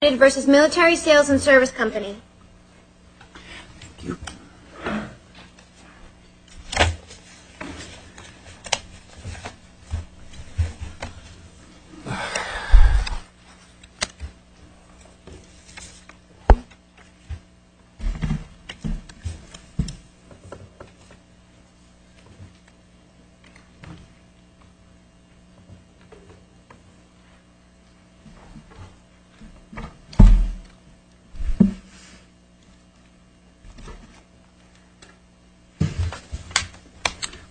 Thank you.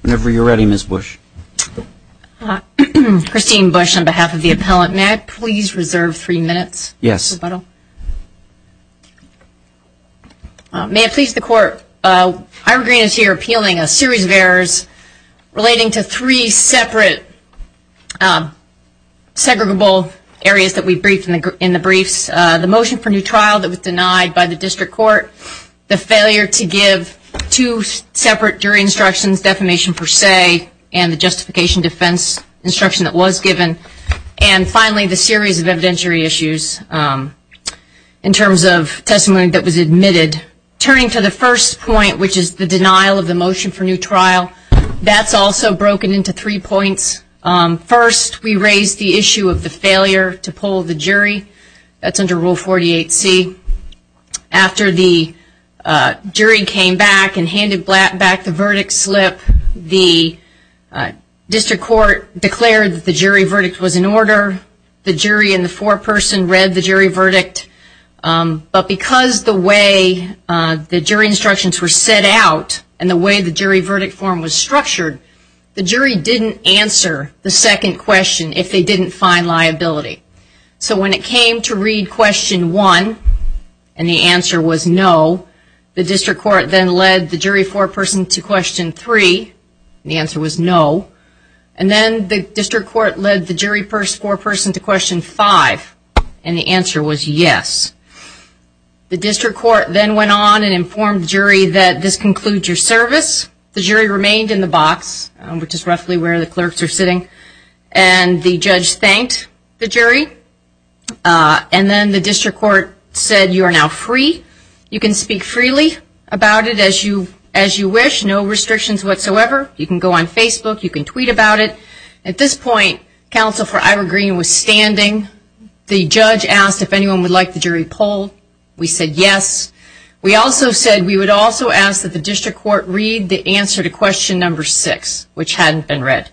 Whenever you're ready, Ms. Bush. Christine Bush on behalf of the appellant. May I please reserve three minutes for rebuttal? Yes. May it please the Court, Ira Green is here appealing a series of errors relating to three separate areas that we briefed in the briefs. The motion for new trial that was denied by the district court, the failure to give two separate jury instructions, defamation per se, and the justification defense instruction that was given. And finally, the series of evidentiary issues in terms of testimony that was admitted. Turning to the first point, which is the denial of the motion for new trial, that's also broken into three points. First, we raised the issue of the failure to pull the jury. That's under Rule 48C. After the jury came back and handed back the verdict slip, the district court declared that the jury verdict was in order. The jury and the foreperson read the jury verdict. But because the way the jury instructions were set out and the way the jury verdict form was structured, the jury didn't answer the second question if they didn't find liability. So when it came to read question one, and the answer was no, the district court then led the jury foreperson to question three, and the answer was no. And then the district court led the jury foreperson to question five, and the answer was yes. The district court then went on and informed the jury that this concludes your service. The jury remained in the box, which is roughly where the clerks are sitting, and the judge thanked the jury. And then the district court said you are now free. You can speak freely about it as you wish, no restrictions whatsoever. You can go on Facebook. You can tweet about it. At this point, counsel for Ira Green was standing. The judge asked if anyone would like the jury poll. We said yes. We also said we would also ask that the district court read the answer to question number six, which hadn't been read.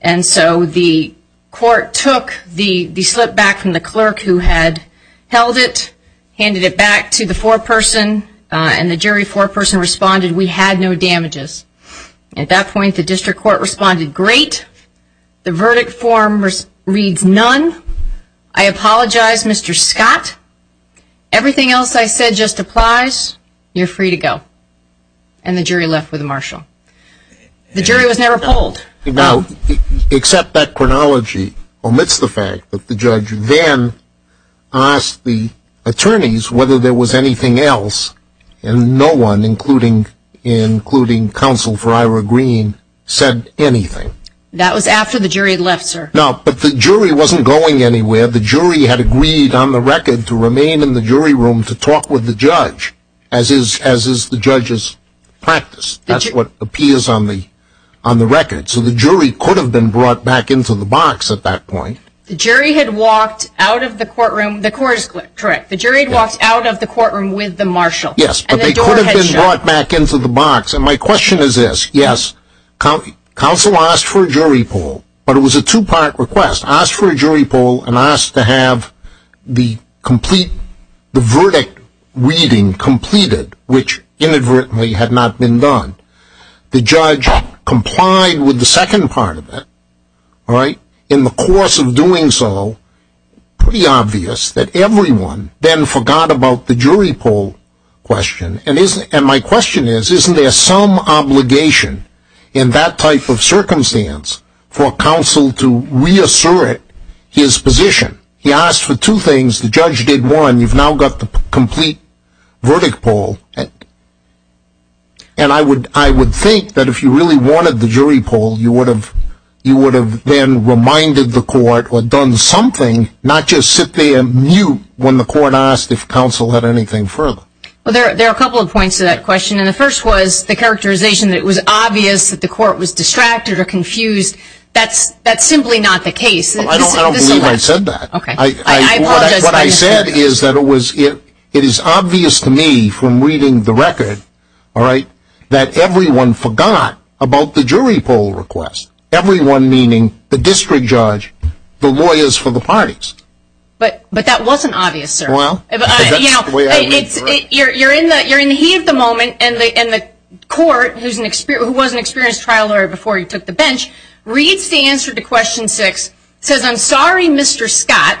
And so the court took the slip back from the clerk who had held it, handed it back to the foreperson, and the jury foreperson responded we had no damages. At that point, the district court responded great. The verdict form reads none. I apologize, Mr. Scott. Everything else I said just applies. You're free to go. And the jury left with Marshall. The jury was never polled. Now, except that chronology omits the fact that the judge then asked the attorneys whether there was anything else, and no one, including counsel for Ira Green, said anything. That was after the jury had left, sir. No, but the jury wasn't going anywhere. The jury had agreed on the record to remain in the jury room to talk with the judge, as is the judge's practice. That's what appears on the record. So the jury could have been brought back into the box at that point. The jury had walked out of the courtroom. The court is correct. The jury had walked out of the courtroom with the Marshall. Yes, but they could have been brought back into the box. And my question is this. Yes, counsel asked for a jury poll, but it was a two-part request. Asked for a jury poll and asked to have the verdict reading completed, which inadvertently had not been done. The judge complied with the second part of it. In the course of doing so, pretty obvious that everyone then forgot about the jury poll question. And my question is, isn't there some obligation in that type of circumstance for counsel to reassert his position? He asked for two things. The judge did one. You've now got the complete verdict poll. And I would think that if you really wanted the jury poll, you would have then reminded the court or done something, not just sit there and mute when the court asked if counsel had anything further. There are a couple of points to that question. And the first was the characterization that it was obvious that the court was distracted or confused. That's simply not the case. I don't believe I said that. What I said is that it is obvious to me from reading the record that everyone forgot about the jury poll request. Everyone meaning the district judge, the lawyers for the parties. But that wasn't obvious, sir. You're in the heat of the moment, and the court, who was an experienced trial lawyer before you took the bench, reads the answer to question six, says, I'm sorry, Mr. Scott,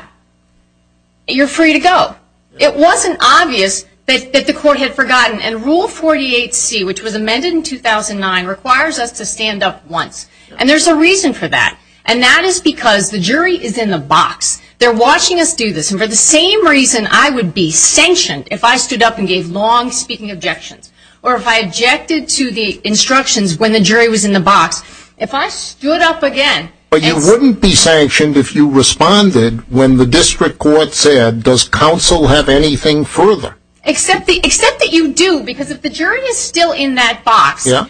you're free to go. It wasn't obvious that the court had forgotten. And Rule 48C, which was amended in 2009, requires us to stand up once. And there's a reason for that. And that is because the jury is in the box. They're watching us do this. And for the same reason I would be sanctioned if I stood up and gave long-speaking objections, or if I objected to the instructions when the jury was in the box, if I stood up again. But you wouldn't be sanctioned if you responded when the district court said, does counsel have anything further? Except that you do, because if the jury is still in that box, and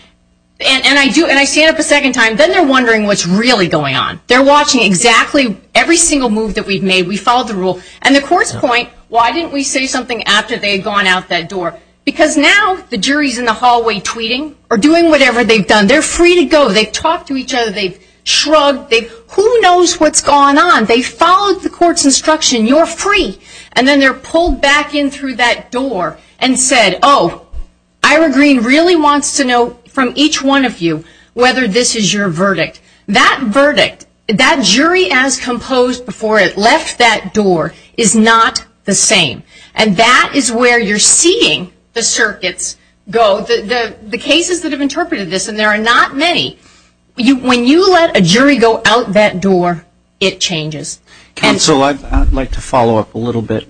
I do, and I stand up a second time, then they're wondering what's really going on. And the court's point, why didn't we say something after they had gone out that door? Because now the jury's in the hallway tweeting or doing whatever they've done. They're free to go. They've talked to each other. They've shrugged. Who knows what's going on? They followed the court's instruction. You're free. And then they're pulled back in through that door and said, oh, Ira Green really wants to know from each one of you whether this is your verdict. That verdict, that jury as composed before it left that door, is not the same. And that is where you're seeing the circuits go, the cases that have interpreted this, and there are not many. When you let a jury go out that door, it changes. Counsel, I'd like to follow up a little bit.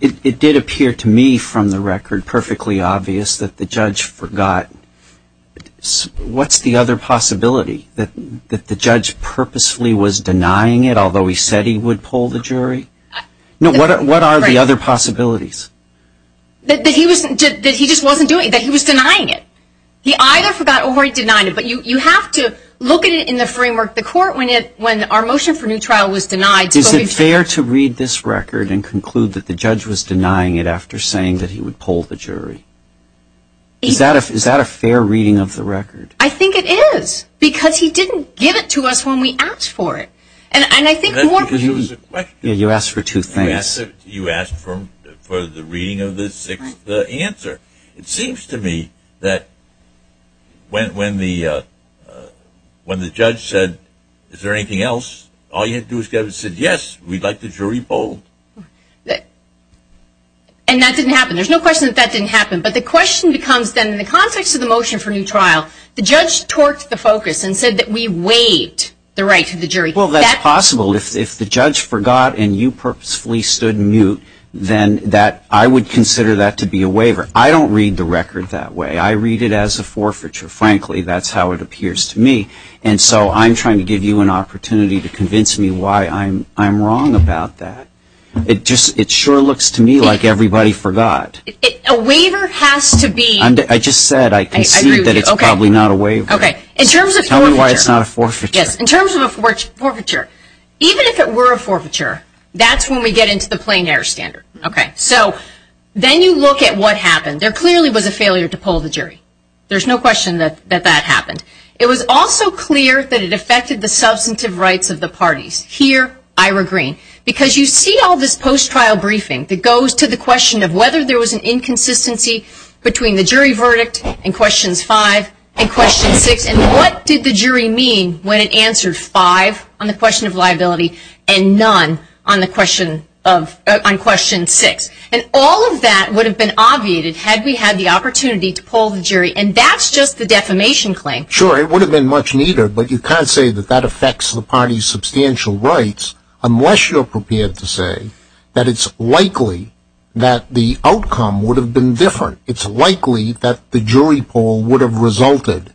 It did appear to me from the record perfectly obvious that the judge forgot. What's the other possibility, that the judge purposefully was denying it, although he said he would pull the jury? What are the other possibilities? That he just wasn't doing it, that he was denying it. He either forgot or he denied it. But you have to look at it in the framework. The court, when our motion for new trial was denied. Is it fair to read this record and conclude that the judge was denying it after saying that he would pull the jury? Is that a fair reading of the record? I think it is. Because he didn't give it to us when we asked for it. And I think more. You asked for two things. You asked for the reading of the sixth answer. It seems to me that when the judge said, is there anything else? All you had to do was say, yes, we'd like the jury pulled. And that didn't happen. There's no question that that didn't happen. But the question becomes then, in the context of the motion for new trial, the judge torqued the focus and said that we waived the right to the jury. Well, that's possible. If the judge forgot and you purposefully stood mute, then I would consider that to be a waiver. I don't read the record that way. I read it as a forfeiture. Frankly, that's how it appears to me. And so I'm trying to give you an opportunity to convince me why I'm wrong about that. It sure looks to me like everybody forgot. A waiver has to be. I just said I concede that it's probably not a waiver. Tell me why it's not a forfeiture. In terms of a forfeiture, even if it were a forfeiture, that's when we get into the plain air standard. Okay. So then you look at what happened. There clearly was a failure to pull the jury. There's no question that that happened. It was also clear that it affected the substantive rights of the parties. Here, I regreen. Because you see all this post-trial briefing that goes to the question of whether there was an inconsistency between the jury verdict in questions five and question six, and what did the jury mean when it answered five on the question of liability and none on question six. And all of that would have been obviated had we had the opportunity to pull the jury. And that's just the defamation claim. Sure, it would have been much neater, but you can't say that that affects the party's substantial rights unless you're prepared to say that it's likely that the outcome would have been different. It's likely that the jury poll would have resulted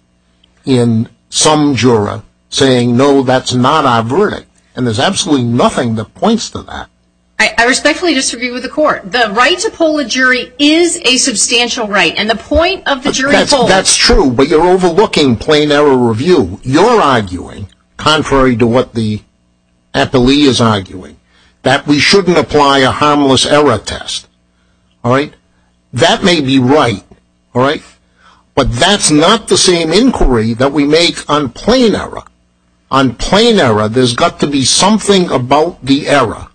in some juror saying, no, that's not our verdict. And there's absolutely nothing that points to that. I respectfully disagree with the court. The right to pull a jury is a substantial right. And the point of the jury poll. That's true. But you're overlooking plain error review. You're arguing, contrary to what the appellee is arguing, that we shouldn't apply a harmless error test. All right? That may be right. All right? But that's not the same inquiry that we make on plain error. On plain error, there's got to be something about the error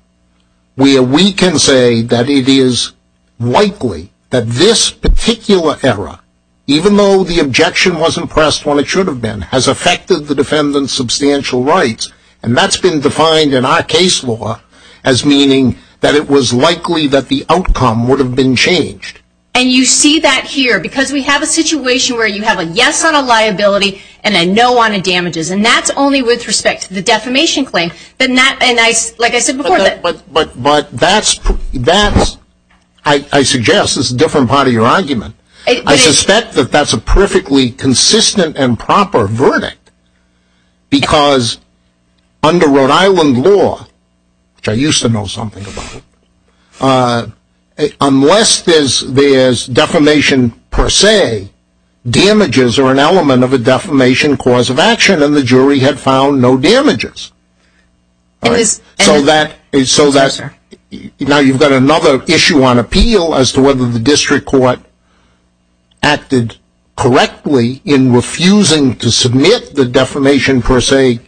where we can say that it is likely that this particular error, even though the objection wasn't pressed when it should have been, has affected the defendant's substantial rights. And that's been defined in our case law as meaning that it was likely that the outcome would have been changed. And you see that here. Because we have a situation where you have a yes on a liability and a no on a damages. And that's only with respect to the defamation claim. Like I said before. But that's, I suggest, is a different part of your argument. I suspect that that's a perfectly consistent and proper verdict. Because under Rhode Island law, which I used to know something about, unless there's defamation per se, damages are an element of a defamation cause of action. And the jury had found no damages. So that's, now you've got another issue on appeal as to whether the district court acted correctly in refusing to submit the defamation per se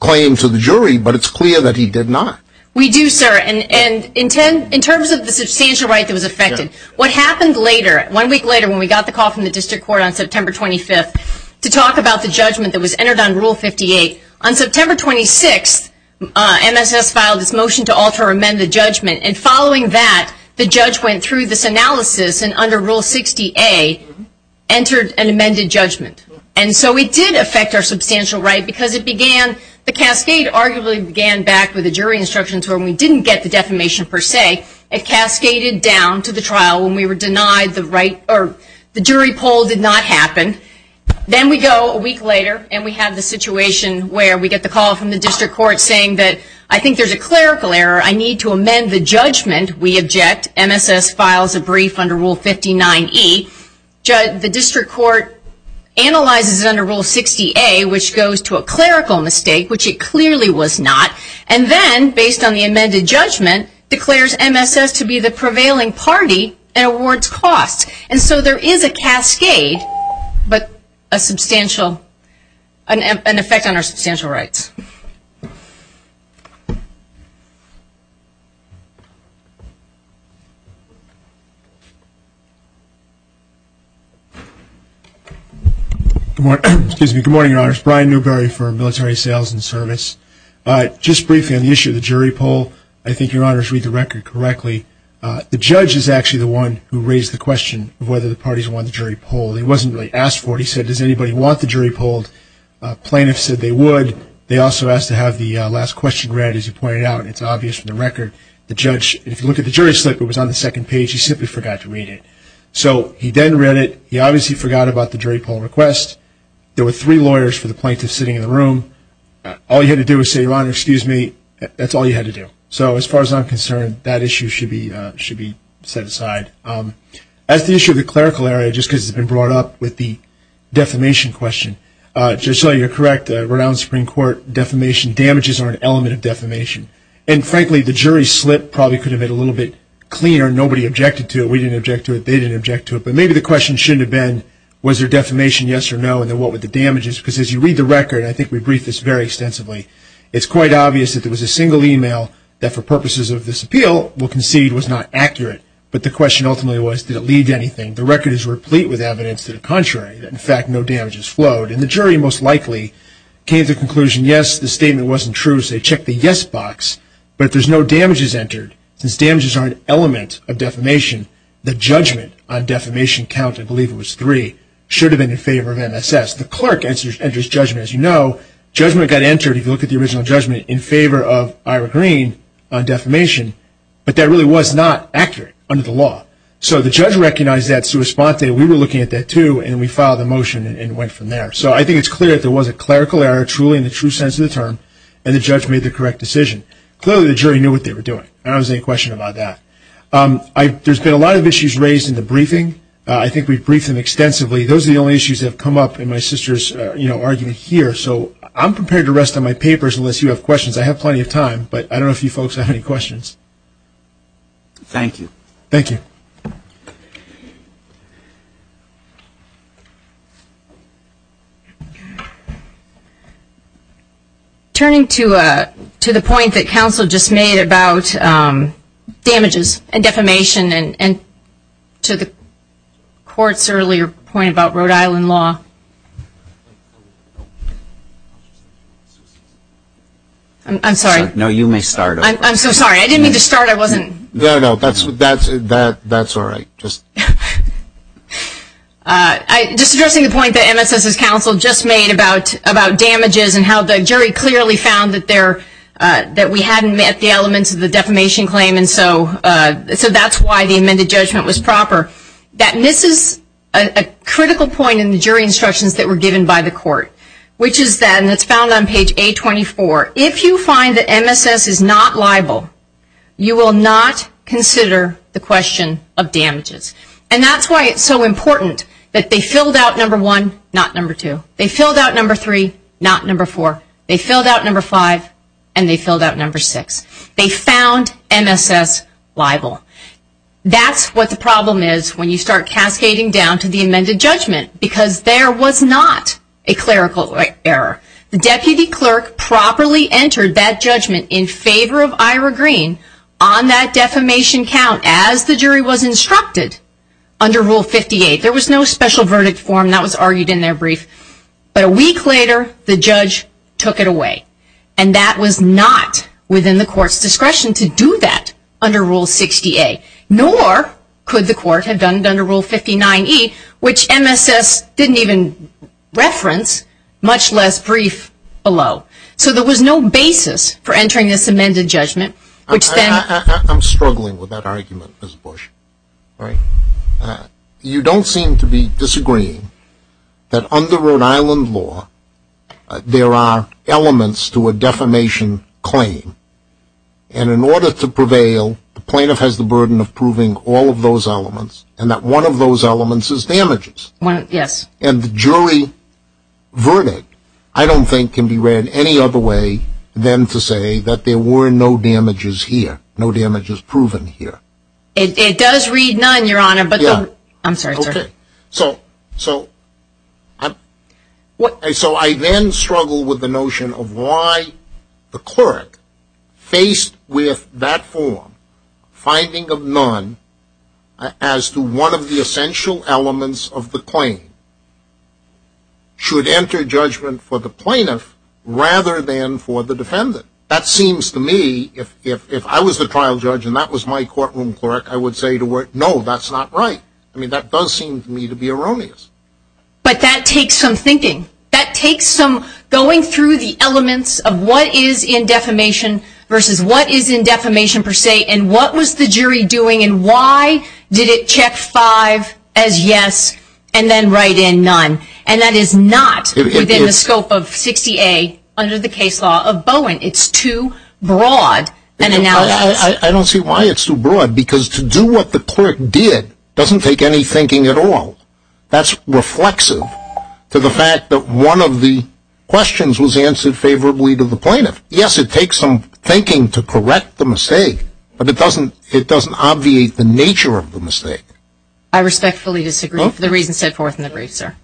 claim to the jury. But it's clear that he did not. We do, sir. And in terms of the substantial right that was affected, what happened later, one week later when we got the call from the district court on September 25th, to talk about the judgment that was entered on Rule 58. On September 26th, MSS filed its motion to alter or amend the judgment. And following that, the judge went through this analysis and under Rule 60A, entered an amended judgment. And so it did affect our substantial right because it began, the cascade arguably began back with the jury instructions where we didn't get the defamation per se. It cascaded down to the trial when we were denied the right, or the jury poll did not happen. Then we go a week later and we have the situation where we get the call from the district court saying that I think there's a clerical error. I need to amend the judgment. We object. MSS files a brief under Rule 59E. The district court analyzes it under Rule 60A, which goes to a clerical mistake, which it clearly was not. And then, based on the amended judgment, declares MSS to be the prevailing party and awards costs. And so there is a cascade, but an effect on our substantial rights. Good morning, Your Honors. Brian Newberry for Military Sales and Service. Just briefly on the issue of the jury poll, I think Your Honors read the record correctly. The judge is actually the one who raised the question of whether the parties won the jury poll. He wasn't really asked for it. He said, does anybody want the jury poll? Plaintiffs said they would. They also asked to have the last question read, as you pointed out, and it's obvious from the record. The judge, if you look at the jury slip, it was on the second page. He simply forgot to read it. So he then read it. He obviously forgot about the jury poll request. There were three lawyers for the plaintiffs sitting in the room. All you had to do was say, Your Honor, excuse me. That's all you had to do. So as far as I'm concerned, that issue should be set aside. As to the issue of the clerical area, just because it's been brought up with the defamation question, just so you're correct, the renowned Supreme Court defamation damages are an element of defamation. And, frankly, the jury slip probably could have been a little bit cleaner. Nobody objected to it. We didn't object to it. They didn't object to it. But maybe the question shouldn't have been, was there defamation, yes or no, and then what with the damages? Because as you read the record, and I think we briefed this very extensively, it's quite obvious that there was a single email that, for purposes of this appeal, we'll concede was not accurate. But the question ultimately was, did it lead to anything? The record is replete with evidence to the contrary, that, in fact, no damages flowed. And the jury most likely came to the conclusion, yes, the statement wasn't true, so they checked the yes box. But if there's no damages entered, since damages are an element of defamation, the judgment on defamation count, I believe it was three, should have been in favor of MSS. The clerk enters judgment. As you know, judgment got entered, if you look at the original judgment, in favor of Ira Green on defamation. But that really was not accurate under the law. So the judge recognized that sua sponte. We were looking at that, too, and we filed a motion and went from there. So I think it's clear that there was a clerical error, truly, in the true sense of the term, and the judge made the correct decision. Clearly, the jury knew what they were doing. I don't see any question about that. There's been a lot of issues raised in the briefing. I think we've briefed them extensively. Those are the only issues that have come up in my sister's argument here. So I'm prepared to rest on my papers unless you have questions. I have plenty of time, but I don't know if you folks have any questions. Thank you. Thank you. Turning to the point that counsel just made about damages and defamation and to the court's earlier point about Rhode Island law. I'm sorry. No, you may start. I'm so sorry. I didn't mean to start. I wasn't. No, no, that's all right. Just addressing the point that MSS's counsel just made about damages and how the jury clearly found that we hadn't met the elements of the defamation claim. So that's why the amended judgment was proper. That misses a critical point in the jury instructions that were given by the court, which is that, and it's found on page 824, if you find that MSS is not liable, you will not consider the question of damages. And that's why it's so important that they filled out number one, not number two. They filled out number three, not number four. They filled out number five, and they filled out number six. They found MSS liable. That's what the problem is when you start cascading down to the amended judgment, because there was not a clerical error. The deputy clerk properly entered that judgment in favor of Ira Green on that defamation count as the jury was instructed under Rule 58. There was no special verdict form. That was argued in their brief. But a week later, the judge took it away. And that was not within the court's discretion to do that under Rule 68, nor could the court have done it under Rule 59E, which MSS didn't even reference, much less brief below. So there was no basis for entering this amended judgment. I'm struggling with that argument, Ms. Bush. You don't seem to be disagreeing that under Rhode Island law, there are elements to a defamation claim, and in order to prevail, the plaintiff has the burden of proving all of those elements, and that one of those elements is damages. Yes. And the jury verdict, I don't think, can be read any other way than to say that there were no damages here, no damages proven here. It does read none, Your Honor. I'm sorry. Okay. So I then struggle with the notion of why the clerk, faced with that form, finding of none as to one of the essential elements of the claim, should enter judgment for the plaintiff rather than for the defendant. That seems to me, if I was the trial judge and that was my courtroom clerk, I would say to her, no, that's not right. I mean, that does seem to me to be erroneous. But that takes some thinking. That takes some going through the elements of what is in defamation versus what is in defamation per se, and what was the jury doing, and why did it check five as yes and then write in none, and that is not within the scope of 60A under the case law of Bowen. It's too broad an analysis. I don't see why it's too broad, because to do what the clerk did doesn't take any thinking at all. That's reflexive to the fact that one of the questions was answered favorably to the plaintiff. Yes, it takes some thinking to correct the mistake, but it doesn't obviate the nature of the mistake. I respectfully disagree for the reasons set forth in the brief, sir.